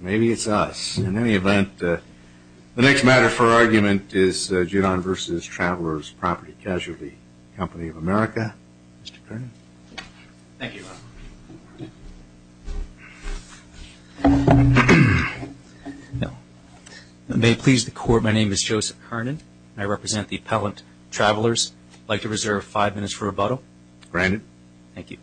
Maybe it's us. In any event, the next matter for argument is Judon v. Travelers Property Casualty Company of America. Mr. Kernan. Thank you. May it please the Court, my name is Joseph Kernan. I represent the Appellant Travelers. I'd like to reserve five minutes for rebuttal. Granted. Thank you.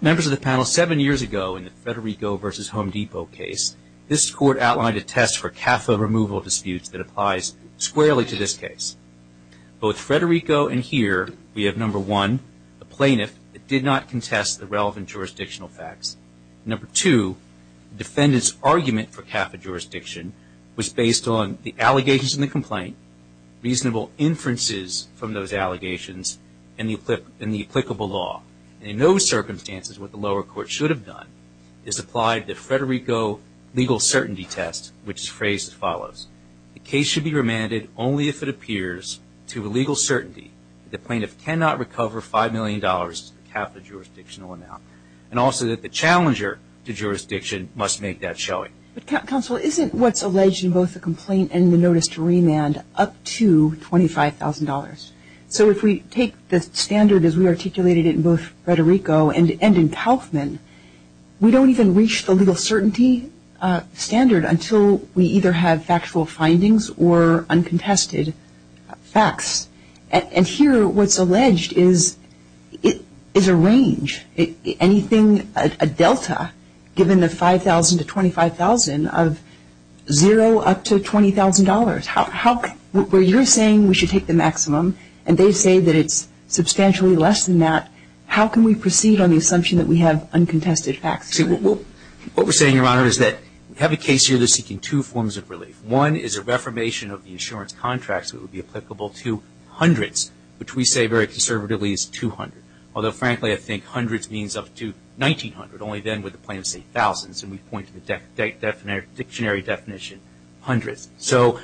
Members of the panel, seven years ago in the Federico v. Home Depot case, this Court outlined a test for CAFA removal disputes that applies squarely to this case. Both Federico and here, we have number one, the plaintiff did not contest the relevant jurisdictional facts. Number two, the defendant's argument for CAFA jurisdiction was based on the allegations in the complaint, reasonable inferences from those allegations, and the applicable law. In those circumstances, what the lower court should have done is applied the Federico legal certainty test, which is phrased as follows. The case should be remanded only if it appears to legal certainty that the plaintiff cannot recover $5 million to the CAFA jurisdictional amount, and also that the challenger to jurisdiction must make that showing. But counsel, isn't what's alleged in both the complaint and the notice to remand up to $25,000? So if we take the standard as we articulated it in both Federico and in Kaufman, we don't even reach the legal certainty standard until we either have factual findings or uncontested facts. And here, what's alleged is a range, anything, a delta, given the $5,000 to $25,000 of zero up to $20,000. Where you're saying we should take the maximum, and they say that it's substantially less than that, how can we proceed on the assumption that we have uncontested facts? What we're saying, Your Honor, is that we have a case here that's seeking two forms of relief. One is a reformation of the insurance contracts that would be applicable to hundreds, which we say very conservatively is 200. Although, frankly, I think hundreds means up to 1,900. Only then would the plaintiff say thousands, and we point to the dictionary definition, hundreds. So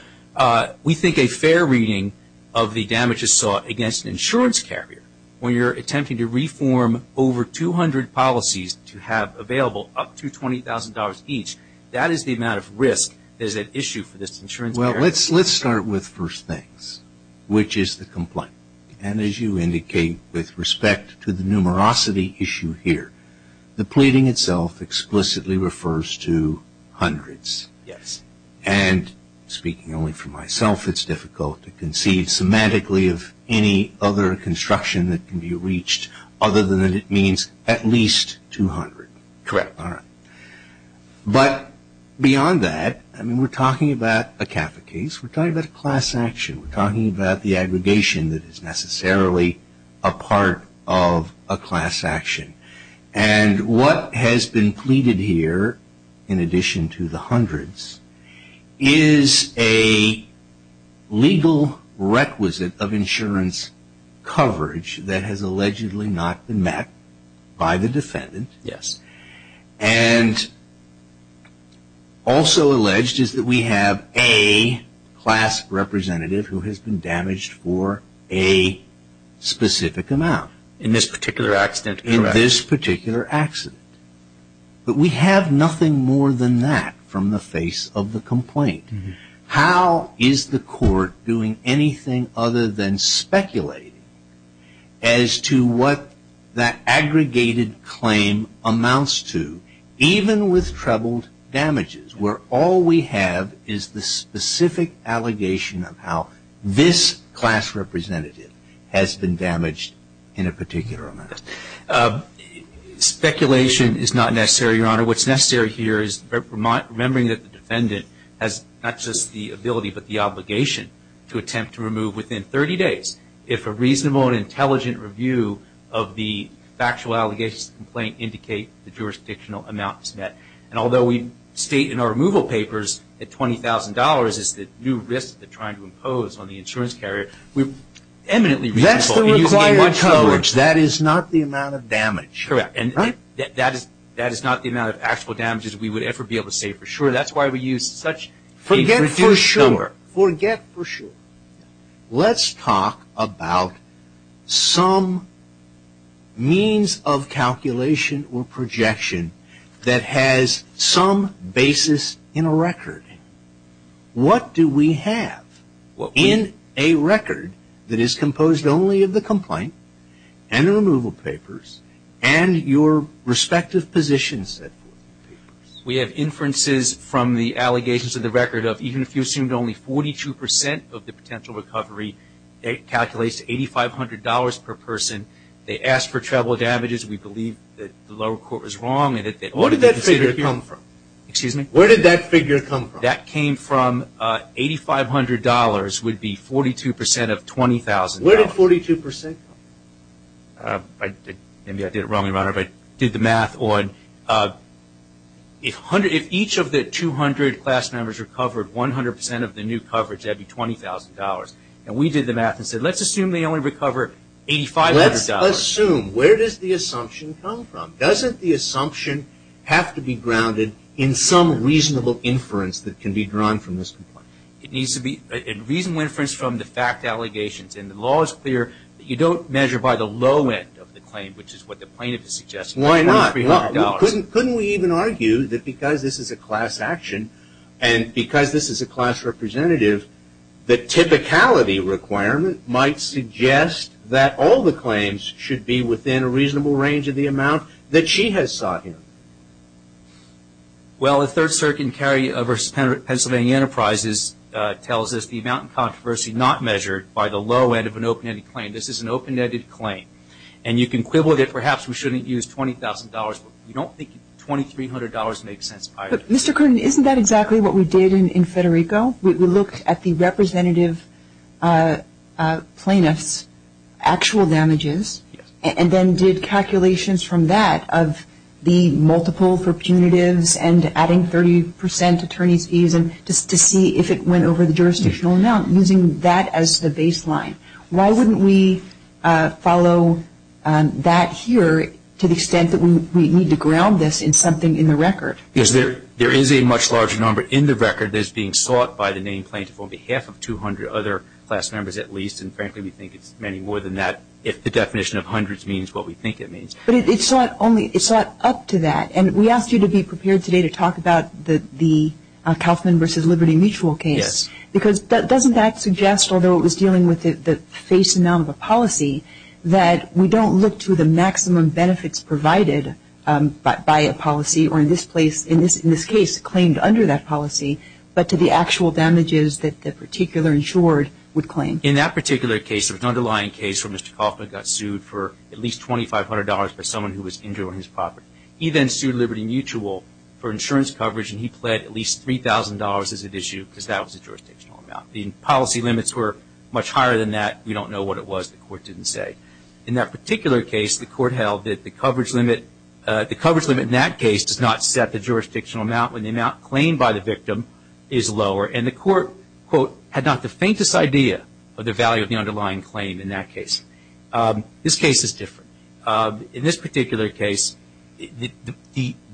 we think a fair reading of the damages sought against an insurance carrier, when you're attempting to reform over 200 policies to have available up to $20,000 each, that is the amount of risk that is at issue for this insurance carrier. Well, let's start with first things, which is the complaint. And as you indicate with respect to the numerosity issue here, the pleading itself explicitly refers to hundreds. Yes. And speaking only for myself, it's difficult to conceive semantically of any other construction that can be reached Correct, Your Honor. But beyond that, I mean, we're talking about a CAFA case. We're talking about a class action. We're talking about the aggregation that is necessarily a part of a class action. And what has been pleaded here, in addition to the hundreds, is a legal requisite of insurance coverage that has allegedly not been met by the defendant. Yes. And also alleged is that we have a class representative who has been damaged for a specific amount. In this particular accident, correct. In this particular accident. But we have nothing more than that from the face of the complaint. How is the court doing anything other than speculating as to what that aggregated claim amounts to, even with troubled damages, where all we have is the specific allegation of how this class representative has been damaged in a particular amount? Your Honor, what's necessary here is remembering that the defendant has not just the ability, but the obligation to attempt to remove within 30 days. If a reasonable and intelligent review of the factual allegations of the complaint indicate the jurisdictional amounts met, and although we state in our removal papers that $20,000 is the new risk they're trying to impose on the insurance carrier, we're eminently reasonable. That's the required coverage. That is not the amount of damage. Correct. That is not the amount of actual damages we would ever be able to say for sure. That's why we use such a reduced number. Forget for sure. Let's talk about some means of calculation or projection that has some basis in a record. What do we have in a record that is composed only of the complaint and the removal papers and your respective position set forth in the papers? We have inferences from the allegations of the record of even if you assumed only 42% of the potential recovery, it calculates to $8,500 per person. They asked for troubled damages. We believe that the lower court was wrong and that they ought to reconsider. Where did that figure come from? Excuse me? Where did that figure come from? That came from $8,500 would be 42% of $20,000. Where did 42% come from? Maybe I did it wrong, Your Honor, but I did the math. If each of the 200 class members recovered 100% of the new coverage, that would be $20,000. We did the math and said let's assume they only recover $8,500. Let's assume. Where does the assumption come from? Doesn't the assumption have to be grounded in some reasonable inference that can be drawn from this complaint? It needs to be a reasonable inference from the fact allegations. And the law is clear that you don't measure by the low end of the claim, which is what the plaintiff is suggesting. Why not? Couldn't we even argue that because this is a class action and because this is a class representative, the typicality requirement might suggest that all the claims should be within a reasonable range of the amount that she has sought here? Well, the third circuit in Cary v. Pennsylvania Enterprises tells us the amount in controversy not measured by the low end of an open-ended claim. This is an open-ended claim. And you can quibble that perhaps we shouldn't use $20,000, but we don't think $2,300 makes sense either. But, Mr. Curtin, isn't that exactly what we did in Federico? We looked at the representative plaintiff's actual damages and then did calculations from that of the multiple for punitives and adding 30 percent attorney's fees just to see if it went over the jurisdictional amount, using that as the baseline. Why wouldn't we follow that here to the extent that we need to ground this in something in the record? Because there is a much larger number in the record that's being sought by the named plaintiff on behalf of 200 other class members at least. And, frankly, we think it's many more than that if the definition of hundreds means what we think it means. But it's not up to that. And we asked you to be prepared today to talk about the Kauffman v. Liberty Mutual case. Yes. Because doesn't that suggest, although it was dealing with the face amount of a policy, that we don't look to the maximum benefits provided by a policy or, in this case, claimed under that policy, but to the actual damages that the particular insured would claim? In that particular case, there was an underlying case where Mr. Kauffman got sued for at least $2,500 by someone who was injured on his property. He then sued Liberty Mutual for insurance coverage, and he pled at least $3,000 as an issue because that was a jurisdictional amount. The policy limits were much higher than that. We don't know what it was. The court didn't say. In that particular case, the court held that the coverage limit in that case does not set the jurisdictional amount when the amount claimed by the victim is lower. And the court, quote, had not the faintest idea of the value of the underlying claim in that case. This case is different. In this particular case,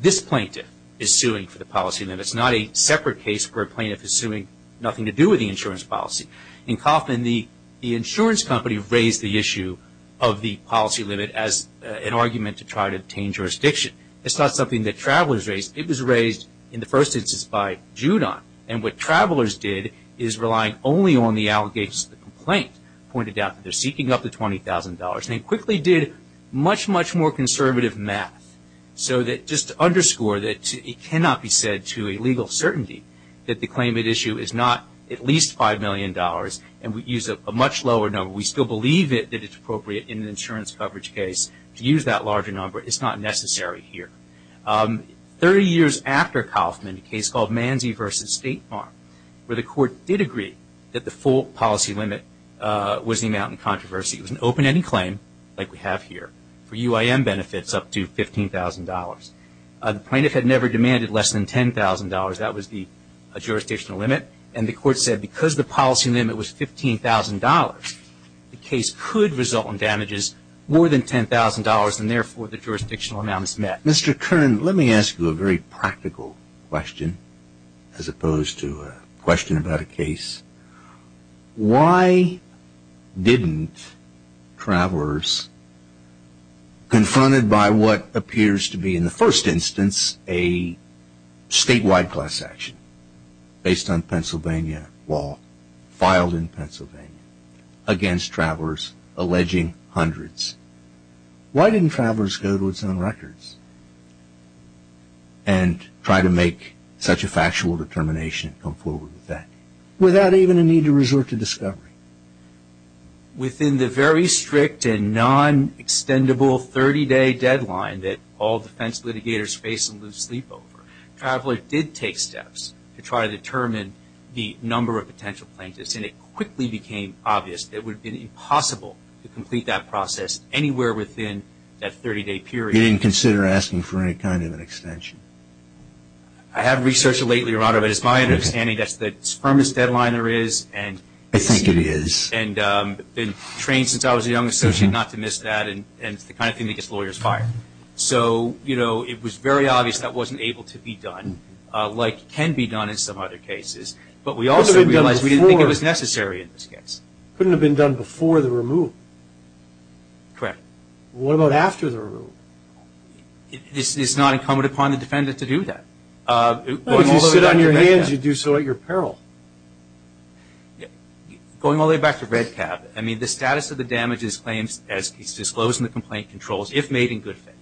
this plaintiff is suing for the policy limits, but it's not a separate case where a plaintiff is suing, nothing to do with the insurance policy. In Kauffman, the insurance company raised the issue of the policy limit as an argument to try to obtain jurisdiction. It's not something that travelers raised. It was raised in the first instance by Judon, and what travelers did is rely only on the allegations of the complaint, pointed out that they're seeking up to $20,000, and they quickly did much, much more conservative math, so just to underscore that it cannot be said to a legal certainty that the claim at issue is not at least $5 million, and we use a much lower number. We still believe that it's appropriate in an insurance coverage case to use that larger number. It's not necessary here. Thirty years after Kauffman, a case called Manzi v. State Farm, where the court did agree that the full policy limit was the amount in controversy. It was an open-ended claim, like we have here, for UIM benefits up to $15,000. The plaintiff had never demanded less than $10,000. That was the jurisdictional limit, and the court said because the policy limit was $15,000, the case could result in damages more than $10,000, and therefore the jurisdictional amount is met. Mr. Kern, let me ask you a very practical question as opposed to a question about a case. Why didn't travelers, confronted by what appears to be in the first instance a statewide class action based on Pennsylvania law filed in Pennsylvania against travelers alleging hundreds, why didn't travelers go to its own records and try to make such a factual determination and come forward with that without even a need to resort to discovery? Within the very strict and non-extendable 30-day deadline that all defense litigators face and lose sleep over, travelers did take steps to try to determine the number of potential plaintiffs, and it quickly became obvious that it would have been impossible to complete that process anywhere within that 30-day period. You didn't consider asking for any kind of an extension? I have researched it lately, Your Honor, but it's my understanding that that's the firmest deadline there is. I think it is. And I've been trained since I was a young associate not to miss that, and it's the kind of thing that gets lawyers fired. So, you know, it was very obvious that wasn't able to be done, like can be done in some other cases, but we also realized we didn't think it was necessary in this case. It couldn't have been done before the removal. Correct. What about after the removal? It's not incumbent upon the defendant to do that. If you sit on your hands, you do so at your peril. Going all the way back to REDCAB, I mean, the status of the damages claims as disclosed in the complaint controls, if made in good faith.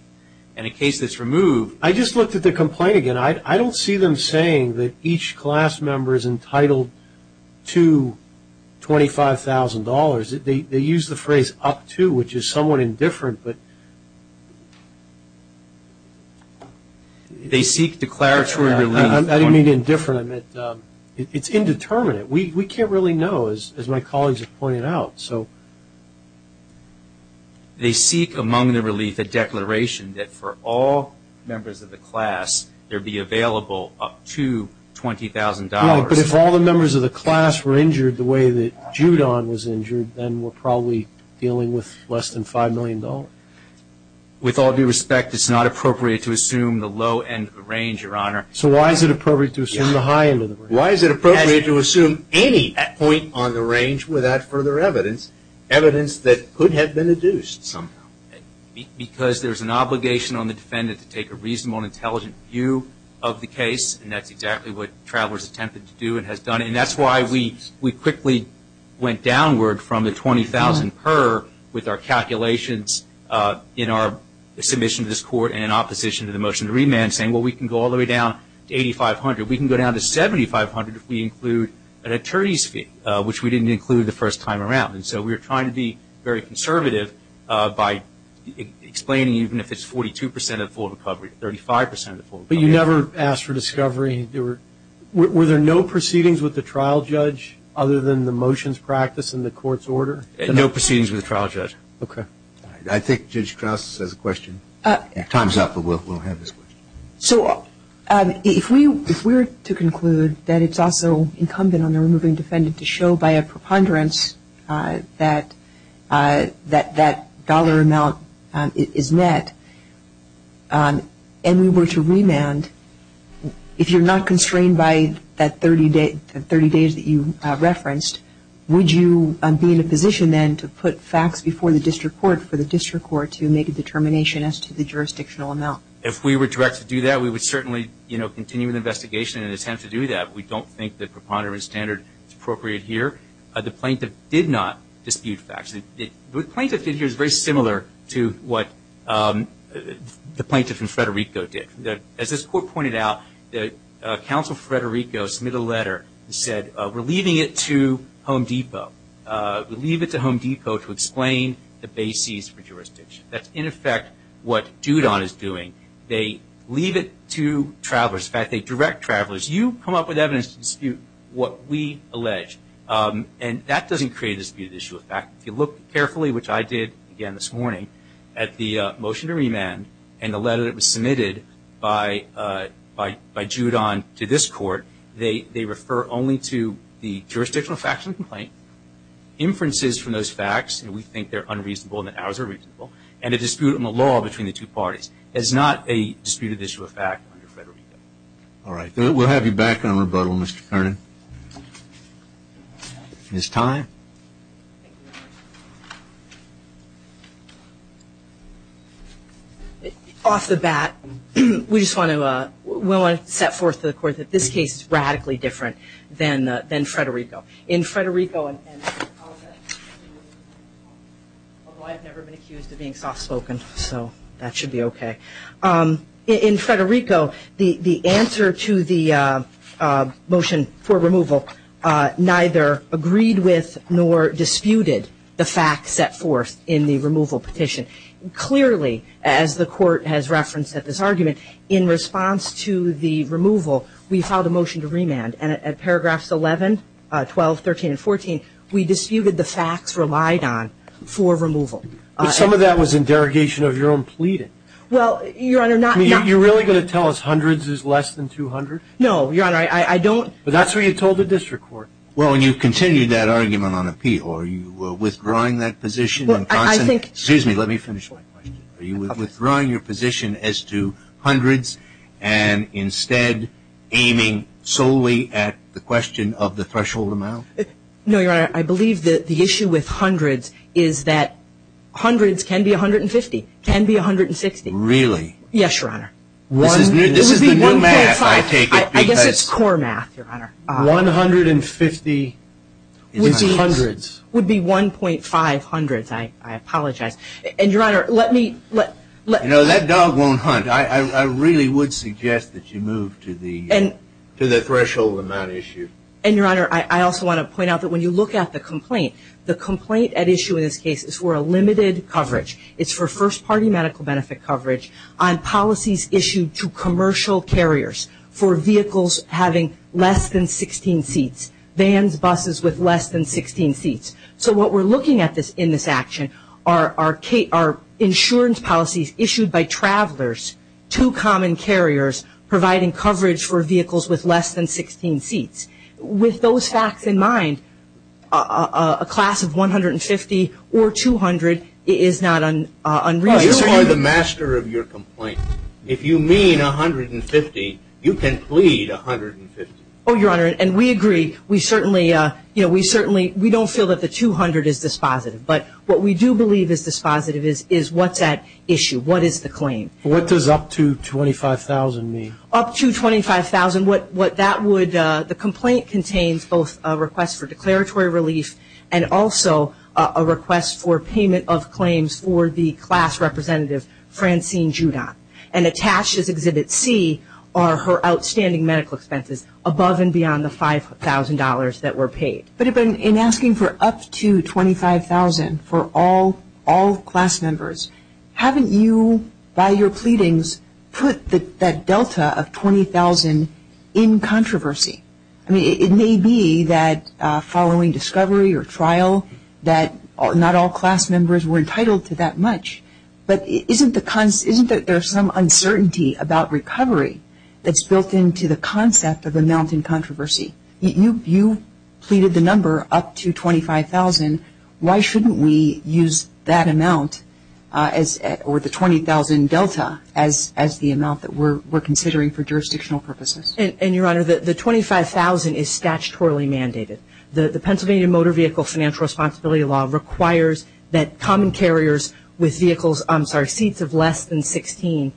And a case that's removed. I just looked at the complaint again. I don't see them saying that each class member is entitled to $25,000. They use the phrase up to, which is somewhat indifferent. They seek declaratory relief. I didn't mean indifferent. It's indeterminate. We can't really know, as my colleagues have pointed out. They seek among the relief a declaration that for all members of the class, there be available up to $20,000. But if all the members of the class were injured the way that Judon was injured, then we're probably dealing with less than $5 million. With all due respect, it's not appropriate to assume the low end of the range, Your Honor. So why is it appropriate to assume the high end of the range? Why is it appropriate to assume any point on the range without further evidence, evidence that could have been adduced somehow? Because there's an obligation on the defendant to take a reasonable and intelligent view of the case, and that's exactly what Travelers attempted to do and has done. And that's why we quickly went downward from the $20,000 per, with our calculations in our submission to this Court and opposition to the motion to remand, saying, well, we can go all the way down to $8,500. We can go down to $7,500 if we include an attorney's fee, which we didn't include the first time around. And so we're trying to be very conservative by explaining even if it's 42% of the full recovery, 35% of the full recovery. But you never asked for discovery. Were there no proceedings with the trial judge other than the motions practiced in the Court's order? No proceedings with the trial judge. Okay. I think Judge Krauss has a question. Time's up, but we'll have this question. So if we were to conclude that it's also incumbent on the removing defendant to show by a preponderance that that dollar amount is net, and we were to remand, if you're not constrained by that 30 days that you referenced, would you be in a position then to put facts before the district court for the district court to make a determination as to the jurisdictional amount? If we were directed to do that, we would certainly, you know, continue the investigation and attempt to do that. We don't think the preponderance standard is appropriate here. The plaintiff did not dispute facts. What the plaintiff did here is very similar to what the plaintiff in Federico did. As this Court pointed out, Counsel Federico submitted a letter and said, we're leaving it to Home Depot. We'll leave it to Home Depot to explain the bases for jurisdiction. That's, in effect, what Judon is doing. They leave it to travelers. In fact, they direct travelers, you come up with evidence to dispute what we allege. And that doesn't create a disputed issue. In fact, if you look carefully, which I did again this morning, at the motion to remand and the letter that was submitted by Judon to this Court, they refer only to the jurisdictional facts of the complaint, inferences from those facts, and we think they're unreasonable and that ours are reasonable, and a dispute on the law between the two parties. It's not a disputed issue of fact under Federico. All right. We'll have you back on rebuttal, Mr. Kernan. Ms. Tye. Off the bat, we just want to set forth to the Court that this case is radically different than Federico. In Federico, although I've never been accused of being soft-spoken, so that should be okay. In Federico, the answer to the motion for removal neither agreed with nor disputed the facts set forth in the removal petition. Clearly, as the Court has referenced at this argument, in response to the removal, we filed a motion to remand. And at paragraphs 11, 12, 13, and 14, we disputed the facts relied on for removal. But some of that was in derogation of your own pleading. Well, Your Honor, not ñ You're really going to tell us hundreds is less than 200? No, Your Honor. I don't. But that's what you told the district court. Well, when you continue that argument on appeal, are you withdrawing that position? I think ñ Excuse me. Let me finish my question. Are you withdrawing your position as to hundreds and instead aiming solely at the question of the threshold amount? No, Your Honor. Your Honor, I believe that the issue with hundreds is that hundreds can be 150, can be 160. Really? Yes, Your Honor. This is the new math, I take it. I guess it's core math, Your Honor. 150 would be hundreds. It would be 1.5 hundreds. I apologize. And, Your Honor, let me ñ You know, that dog won't hunt. I really would suggest that you move to the threshold amount issue. And, Your Honor, I also want to point out that when you look at the complaint, the complaint at issue in this case is for a limited coverage. It's for first-party medical benefit coverage on policies issued to commercial carriers for vehicles having less than 16 seats, vans, buses with less than 16 seats. So what we're looking at in this action are insurance policies issued by travelers to common carriers providing coverage for vehicles with less than 16 seats. With those facts in mind, a class of 150 or 200 is not unreasonable. You are the master of your complaints. If you mean 150, you can plead 150. Oh, Your Honor, and we agree. We certainly ñ you know, we certainly ñ we don't feel that the 200 is dispositive. But what we do believe is dispositive is what's at issue, what is the claim. What does up to $25,000 mean? Up to $25,000, what that would ñ the complaint contains both a request for declaratory relief and also a request for payment of claims for the class representative, Francine Judon. And attached is Exhibit C are her outstanding medical expenses above and beyond the $5,000 that were paid. But in asking for up to $25,000 for all class members, haven't you, by your pleadings, put that delta of $20,000 in controversy? I mean, it may be that following discovery or trial that not all class members were entitled to that much. But isn't the ñ isn't there some uncertainty about recovery that's built into the concept of a mountain controversy? You pleaded the number up to $25,000. Why shouldn't we use that amount as ñ or the $20,000 delta as the amount that we're considering for jurisdictional purposes? And, Your Honor, the $25,000 is statutorily mandated. The Pennsylvania Motor Vehicle Financial Responsibility Law requires that common carriers with vehicles ñ I'm sorry ñ seats of less than 16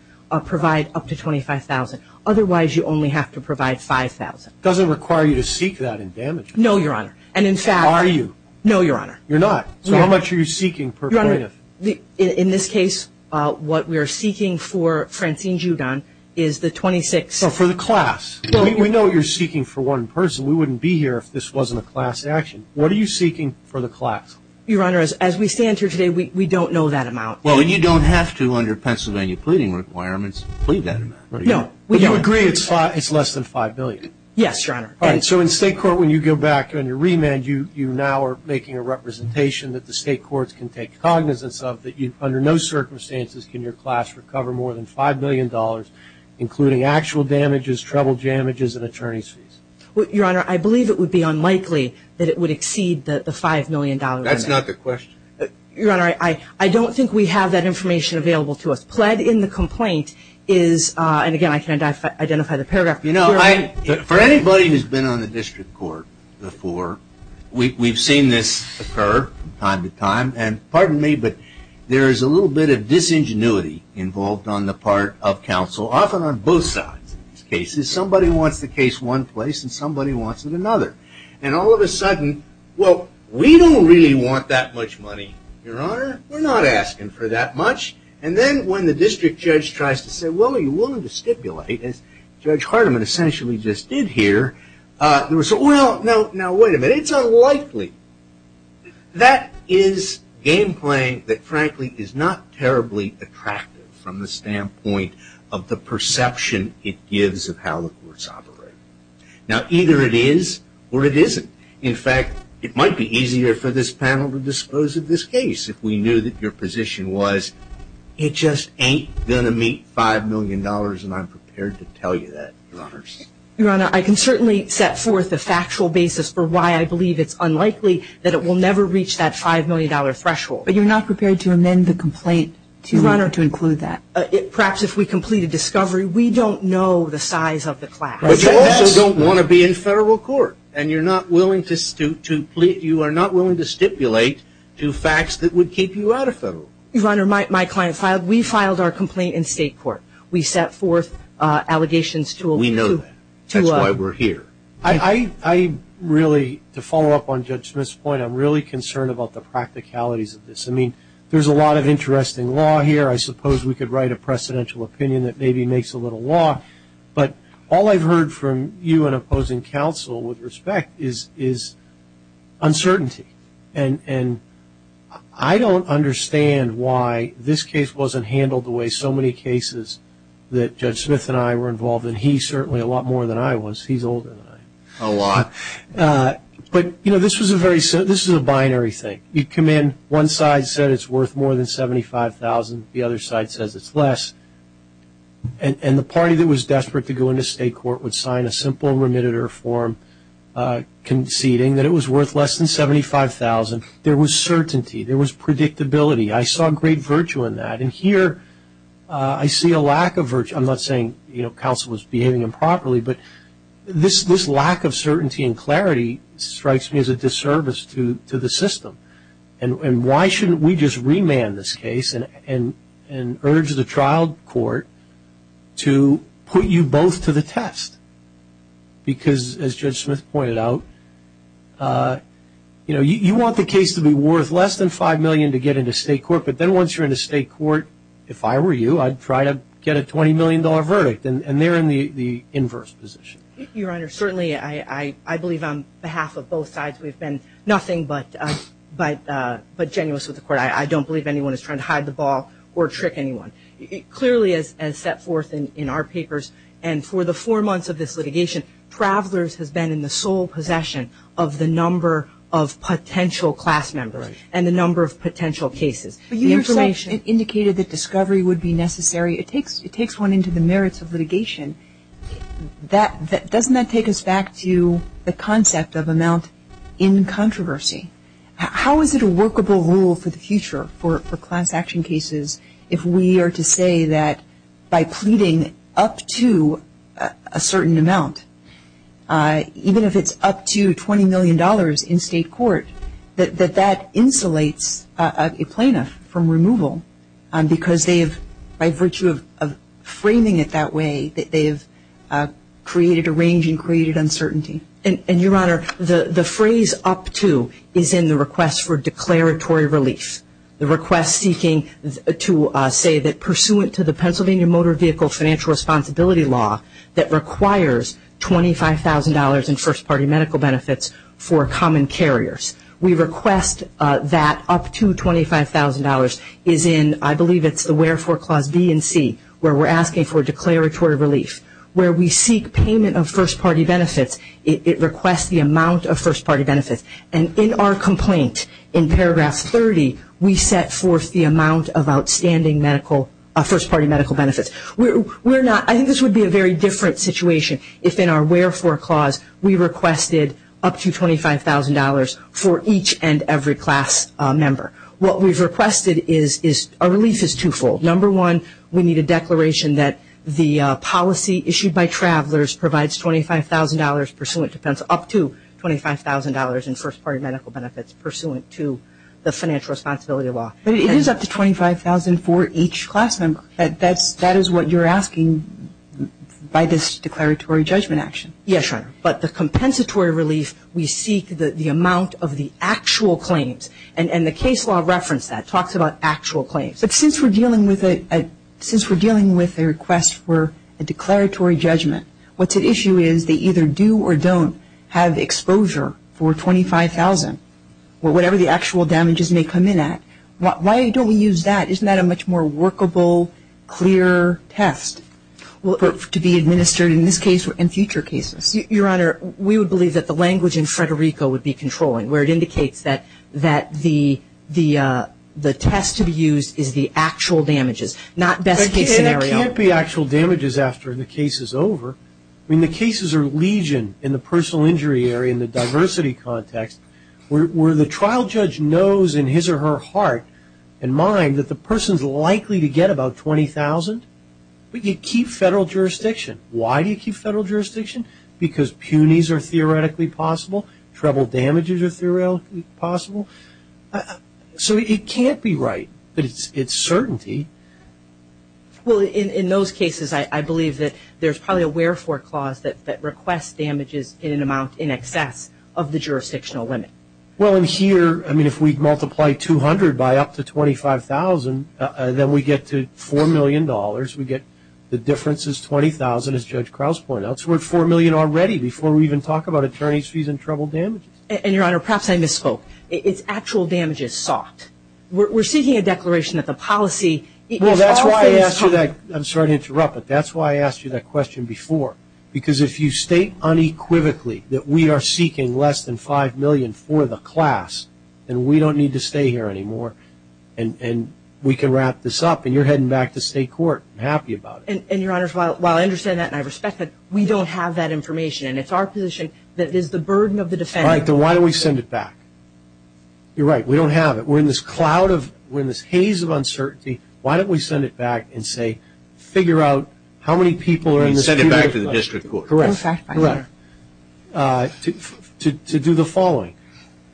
provide up to $25,000. Otherwise, you only have to provide $5,000. It doesn't require you to seek that in damages. No, Your Honor. And in fact ñ How are you? No, Your Honor. You're not. So how much are you seeking per plaintiff? Your Honor, in this case, what we are seeking for Francine Giudon is the 26 ñ So for the class. We know you're seeking for one person. We wouldn't be here if this wasn't a class action. What are you seeking for the class? Your Honor, as we stand here today, we don't know that amount. Well, and you don't have to, under Pennsylvania pleading requirements, plead that amount. No. But you agree it's less than $5 million. Yes, Your Honor. All right. So in state court, when you go back on your remand, you now are making a representation that the state courts can take cognizance of, that under no circumstances can your class recover more than $5 million, including actual damages, treble damages, and attorney's fees. Your Honor, I believe it would be unlikely that it would exceed the $5 million limit. That's not the question. Your Honor, I don't think we have that information available to us. And again, I can identify the paragraph. You know, for anybody who's been on the district court before, we've seen this occur from time to time. And pardon me, but there is a little bit of disingenuity involved on the part of counsel, often on both sides of these cases. Somebody wants the case one place and somebody wants it another. And all of a sudden, well, we don't really want that much money, Your Honor. We're not asking for that much. And then when the district judge tries to say, well, are you willing to stipulate, as Judge Hardiman essentially just did here, we say, well, now, wait a minute, it's unlikely. That is game playing that, frankly, is not terribly attractive from the standpoint of the perception it gives of how the courts operate. Now, either it is or it isn't. In fact, it might be easier for this panel to dispose of this case if we knew that your position was it just ain't going to meet $5 million, and I'm prepared to tell you that, Your Honor. Your Honor, I can certainly set forth a factual basis for why I believe it's unlikely that it will never reach that $5 million threshold. But you're not prepared to amend the complaint to include that. Your Honor, perhaps if we complete a discovery, we don't know the size of the class. But you also don't want to be in federal court, and you're not willing to stipulate to facts that would keep you out of federal court. Your Honor, my client filed, we filed our complaint in state court. We set forth allegations to a We know that. That's why we're here. I really, to follow up on Judge Smith's point, I'm really concerned about the practicalities of this. I mean, there's a lot of interesting law here. I suppose we could write a precedential opinion that maybe makes a little law. But all I've heard from you and opposing counsel with respect is uncertainty. And I don't understand why this case wasn't handled the way so many cases that Judge Smith and I were involved in. He certainly a lot more than I was. He's older than I am. A lot. But, you know, this is a binary thing. You come in, one side said it's worth more than $75,000. The other side says it's less. And the party that was desperate to go into state court would sign a simple remitted or form conceding that it was worth less than $75,000. There was certainty. There was predictability. I saw great virtue in that. And here I see a lack of virtue. I'm not saying, you know, counsel was behaving improperly, but this lack of certainty and clarity strikes me as a disservice to the system. And why shouldn't we just remand this case and urge the trial court to put you both to the test? Because, as Judge Smith pointed out, you know, you want the case to be worth less than $5 million to get into state court, but then once you're in the state court, if I were you, I'd try to get a $20 million verdict. And they're in the inverse position. Your Honor, certainly I believe on behalf of both sides we've been nothing but genuine with the court. I don't believe anyone is trying to hide the ball or trick anyone. Clearly as set forth in our papers and for the four months of this litigation, Travelers has been in the sole possession of the number of potential class members and the number of potential cases. But you yourself indicated that discovery would be necessary. It takes one into the merits of litigation. Doesn't that take us back to the concept of amount in controversy? How is it a workable rule for the future for class action cases if we are to say that by pleading up to a certain amount, even if it's up to $20 million in state court, that that insulates a plaintiff from removal because they've, by virtue of framing it that way, they've created a range and created uncertainty. And, Your Honor, the phrase up to is in the request for declaratory relief, the request seeking to say that pursuant to the Pennsylvania Motor Vehicle Financial Responsibility Law that requires $25,000 in first party medical benefits for common carriers. We request that up to $25,000 is in, I believe it's the wherefore clause B and C, where we're asking for declaratory relief. Where we seek payment of first party benefits, it requests the amount of first party benefits. And in our complaint, in paragraph 30, we set forth the amount of outstanding medical, first party medical benefits. We're not, I think this would be a very different situation if in our wherefore clause we requested up to $25,000 for each and every class member. What we've requested is, our relief is twofold. Number one, we need a declaration that the policy issued by travelers provides $25,000 pursuant to, up to $25,000 in first party medical benefits pursuant to the financial responsibility law. But it is up to $25,000 for each class member. That is what you're asking by this declaratory judgment action. Yes, Your Honor. But the compensatory relief, we seek the amount of the actual claims. And the case law referenced that, talks about actual claims. But since we're dealing with a request for a declaratory judgment, what's at issue is they either do or don't have exposure for $25,000, or whatever the actual damages may come in at. Why don't we use that? Isn't that a much more workable, clearer test to be administered in this case and future cases? Yes, Your Honor. We would believe that the language in Frederico would be controlling, where it indicates that the test to be used is the actual damages, not best case scenario. But there can't be actual damages after the case is over. I mean, the cases are legion in the personal injury area, in the diversity context, where the trial judge knows in his or her heart and mind that the person's likely to get about $20,000. But you keep federal jurisdiction. Why do you keep federal jurisdiction? Because punies are theoretically possible, treble damages are theoretically possible. So it can't be right, but it's certainty. Well, in those cases, I believe that there's probably a wherefore clause that requests damages in an amount in excess of the jurisdictional limit. Well, in here, I mean, if we multiply $200,000 by up to $25,000, then we get to $4 million. We get the difference is $20,000, as Judge Krause pointed out. So we're at $4 million already before we even talk about attorney's fees and treble damages. And, Your Honor, perhaps I misspoke. It's actual damages sought. We're seeking a declaration that the policy is often sought. Well, that's why I asked you that. I'm sorry to interrupt, but that's why I asked you that question before. Because if you state unequivocally that we are seeking less than $5 million for the class, then we don't need to stay here anymore, and we can wrap this up. And you're heading back to state court happy about it. And, Your Honor, while I understand that and I respect that, we don't have that information. And it's our position that it is the burden of the defendant. All right. Then why don't we send it back? You're right. We don't have it. We're in this cloud of – we're in this haze of uncertainty. Why don't we send it back and say, figure out how many people are in this community. You mean send it back to the district court. Correct. Correct. To do the following.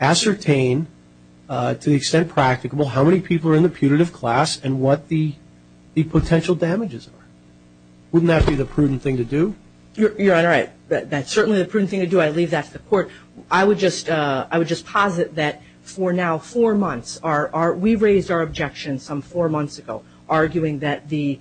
Ascertain to the extent practicable how many people are in the putative class and what the potential damages are. Wouldn't that be the prudent thing to do? Your Honor, that's certainly the prudent thing to do. I leave that to the court. I would just posit that for now four months, we raised our objection some four months ago, arguing that the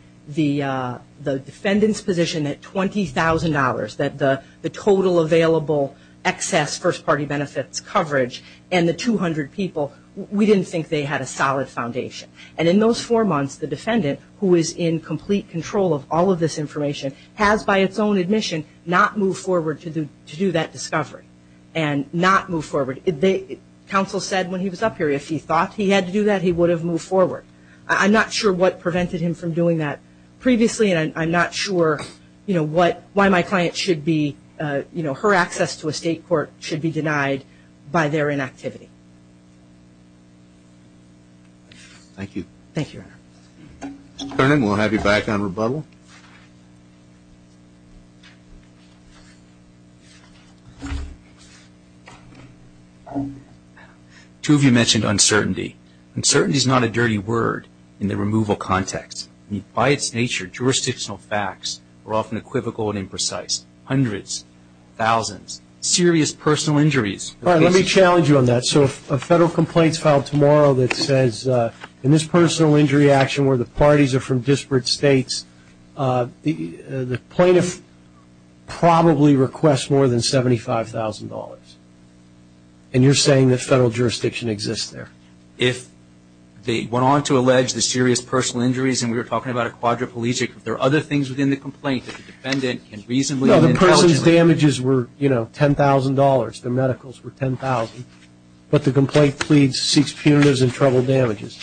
defendant's position at $20,000, that the total available excess first-party benefits coverage and the 200 people, we didn't think they had a solid foundation. And in those four months, the defendant, who is in complete control of all of this information, has by its own admission not moved forward to do that discovery and not move forward. Counsel said when he was up here, if he thought he had to do that, he would have moved forward. I'm not sure what prevented him from doing that previously, and I'm not sure why my client should be, you know, her access to a state court should be denied by their inactivity. Thank you. Thank you, Your Honor. Mr. Kernan, we'll have you back on rebuttal. Two of you mentioned uncertainty. Uncertainty is not a dirty word in the removal context. By its nature, jurisdictional facts are often equivocal and imprecise. Hundreds, thousands, serious personal injuries. All right, let me challenge you on that. So if a federal complaint is filed tomorrow that says, in this personal injury action where the parties are from disparate states, the plaintiff probably requests more than $75,000, and you're saying that federal jurisdiction exists there. If they went on to allege the serious personal injuries, and we were talking about a quadriplegic, if there are other things within the complaint that the defendant can reasonably No, the person's damages were, you know, $10,000. Their medicals were $10,000. But the complaint pleads, seeks punitives and trouble damages.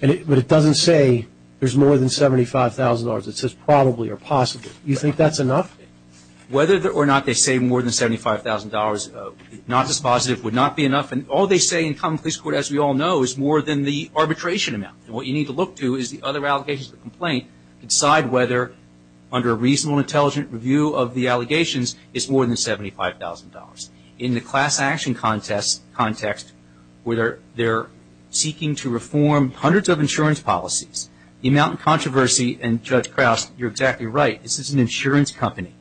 But it doesn't say there's more than $75,000. It says probably or possibly. You think that's enough? Whether or not they say more than $75,000, not dispositive would not be enough. And all they say in common police court, as we all know, is more than the arbitration amount. And what you need to look to is the other allegations of the complaint to decide whether, under a reasonable and intelligent review of the allegations, it's more than $75,000. In the class action context, where they're seeking to reform hundreds of insurance policies, the amount of controversy, and, Judge Krauss, you're exactly right. This is an insurance company,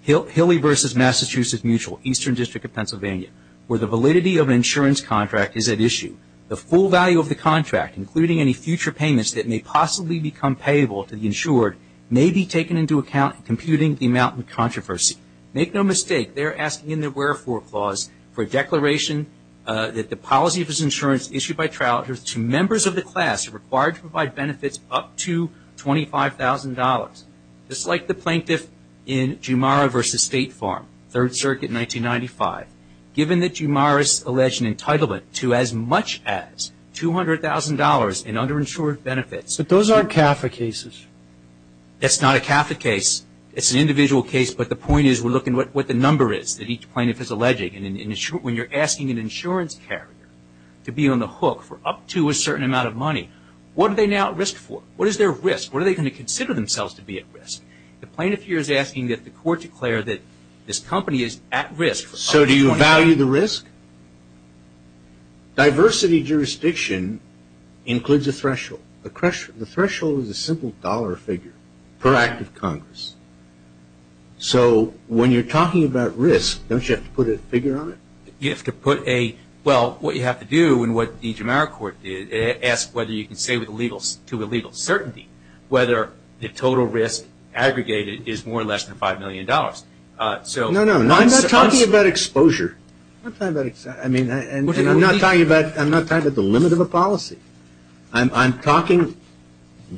Hilly v. Massachusetts Mutual, Eastern District of Pennsylvania, where the validity of an insurance contract is at issue. The full value of the contract, including any future payments that may possibly become payable to the insured, may be taken into account in computing the amount of controversy. Make no mistake. They're asking in their wherefore clause for a declaration that the policy of this insurance issued by Troutters to members of the class required to provide $75,000. Just like the plaintiff in Jumara v. State Farm, 3rd Circuit, 1995, given that Jumara's alleged entitlement to as much as $200,000 in underinsured benefits. But those aren't CAFA cases. That's not a CAFA case. It's an individual case. But the point is we're looking at what the number is that each plaintiff is alleging. And when you're asking an insurance carrier to be on the hook for up to a certain amount of money, what are they now at risk for? What is their risk? What are they going to consider themselves to be at risk? The plaintiff here is asking that the court declare that this company is at risk. So do you value the risk? Diversity jurisdiction includes a threshold. The threshold is a simple dollar figure per act of Congress. So when you're talking about risk, don't you have to put a figure on it? You have to put a, well, what you have to do and what the Jumara court asks whether you can say to the legal certainty whether the total risk aggregated is more or less than $5 million. No, no. I'm not talking about exposure. I'm not talking about the limit of a policy. I'm talking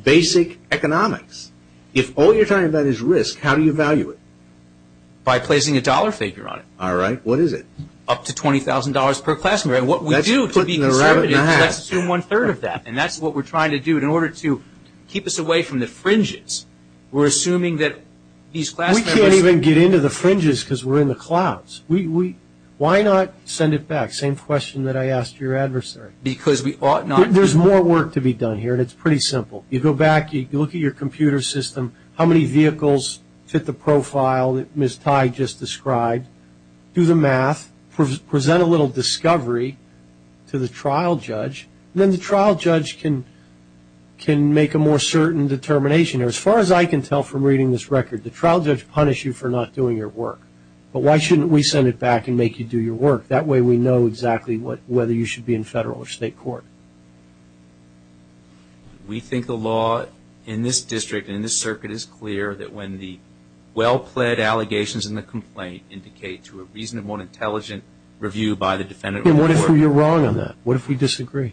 basic economics. If all you're talking about is risk, how do you value it? By placing a dollar figure on it. All right. What is it? Up to $20,000 per class. Let's assume one-third of that. And that's what we're trying to do. In order to keep us away from the fringes, we're assuming that these class members We can't even get into the fringes because we're in the clouds. Why not send it back? Same question that I asked your adversary. Because we ought not. There's more work to be done here, and it's pretty simple. You go back. You look at your computer system, how many vehicles fit the profile that Ms. discovery to the trial judge. Then the trial judge can make a more certain determination. Or as far as I can tell from reading this record, the trial judge punished you for not doing your work. But why shouldn't we send it back and make you do your work? That way we know exactly whether you should be in federal or state court. We think the law in this district, in this circuit, is clear that when the well-pled allegations in the complaint indicate to a reasonable and intelligent review by the defendant. And what if you're wrong on that? What if we disagree?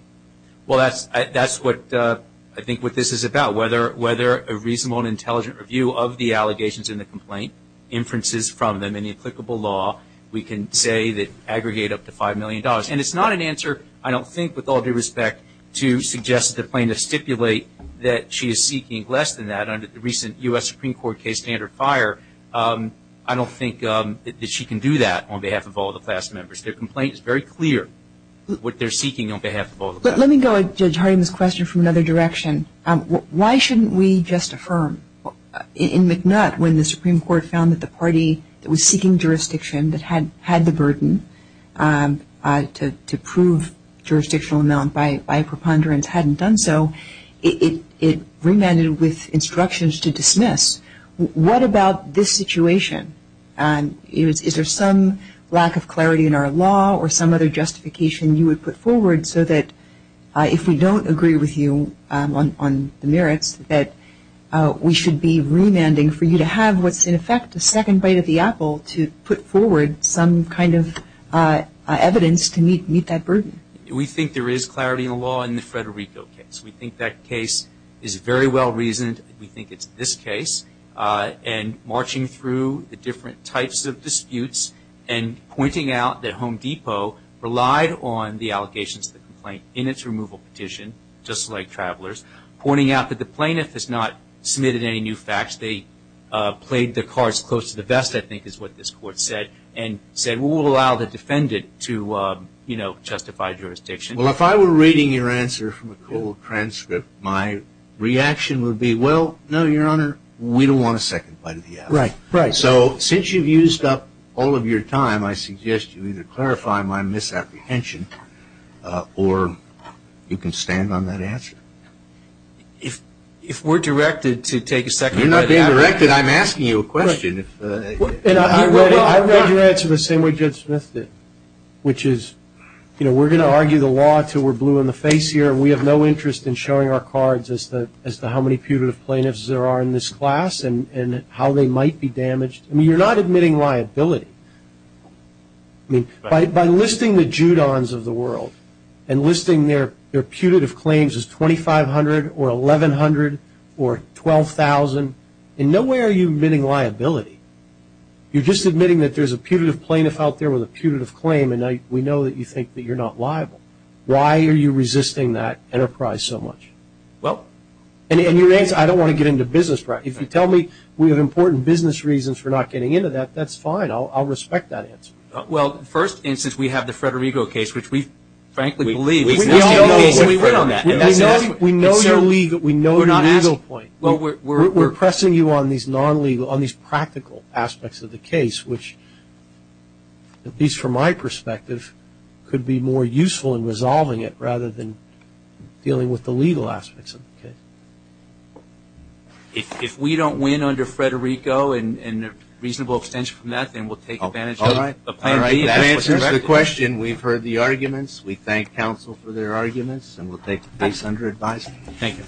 Well, that's what I think what this is about. Whether a reasonable and intelligent review of the allegations in the complaint inferences from them in the applicable law, we can say that aggregate up to $5 million. And it's not an answer, I don't think, with all due respect to suggest that the plaintiff stipulate that she is seeking less than that under the recent U.S. Supreme Court case standard fire. I don't think that she can do that on behalf of all the class members. Their complaint is very clear what they're seeking on behalf of all the class members. Let me go, Judge Harding, this question from another direction. Why shouldn't we just affirm? In McNutt, when the Supreme Court found that the party that was seeking jurisdiction, that had the burden to prove jurisdictional amount by a preponderance hadn't done so, it remanded with instructions to dismiss. What about this situation? Is there some lack of clarity in our law or some other justification you would put forward so that, if we don't agree with you on the merits, that we should be remanding for you to have what's, in effect, a second bite of the apple to put forward some kind of evidence to meet that burden? We think there is clarity in the law in the Federico case. We think that case is very well reasoned. We think it's this case. And marching through the different types of disputes and pointing out that Home Depot relied on the allegations of the complaint in its removal petition, just like Travelers, pointing out that the plaintiff has not submitted any new facts. They played their cards close to the vest, I think is what this Court said, and said, well, we'll allow the defendant to, you know, justify jurisdiction. Well, if I were reading your answer from a cold transcript, my reaction would be, well, no, Your Honor, we don't want a second bite of the apple. Right, right. So since you've used up all of your time, I suggest you either clarify my misapprehension or you can stand on that answer. If we're directed to take a second bite of the apple. You're not being directed. I'm asking you a question. I read your answer the same way Judge Smith did, which is, you know, we're going to argue the law until we're blue in the face here and we have no interest in showing our cards as to how many putative plaintiffs there are in this class and how they might be damaged. I mean, you're not admitting liability. I mean, by listing the Judons of the world and listing their putative claims as 2,500 or 1,100 or 12,000, in no way are you admitting liability. You're just admitting that there's a putative plaintiff out there with a putative claim and we know that you think that you're not liable. Why are you resisting that enterprise so much? Well. And your answer, I don't want to get into business practice. If you tell me we have important business reasons for not getting into that, that's fine. I'll respect that answer. Well, first, and since we have the Federico case, which we frankly believe is an interesting case. We know your legal point. We're pressing you on these non-legal, on these practical aspects of the case, which at least from my perspective could be more useful in resolving it rather than dealing with the legal aspects of the case. If we don't win under Federico and a reasonable abstention from that, then we'll take advantage of the plaintiff. All right. That answers the question. We've heard the arguments. We thank counsel for their arguments and we'll take the case under advisement. Thank you. Thank you.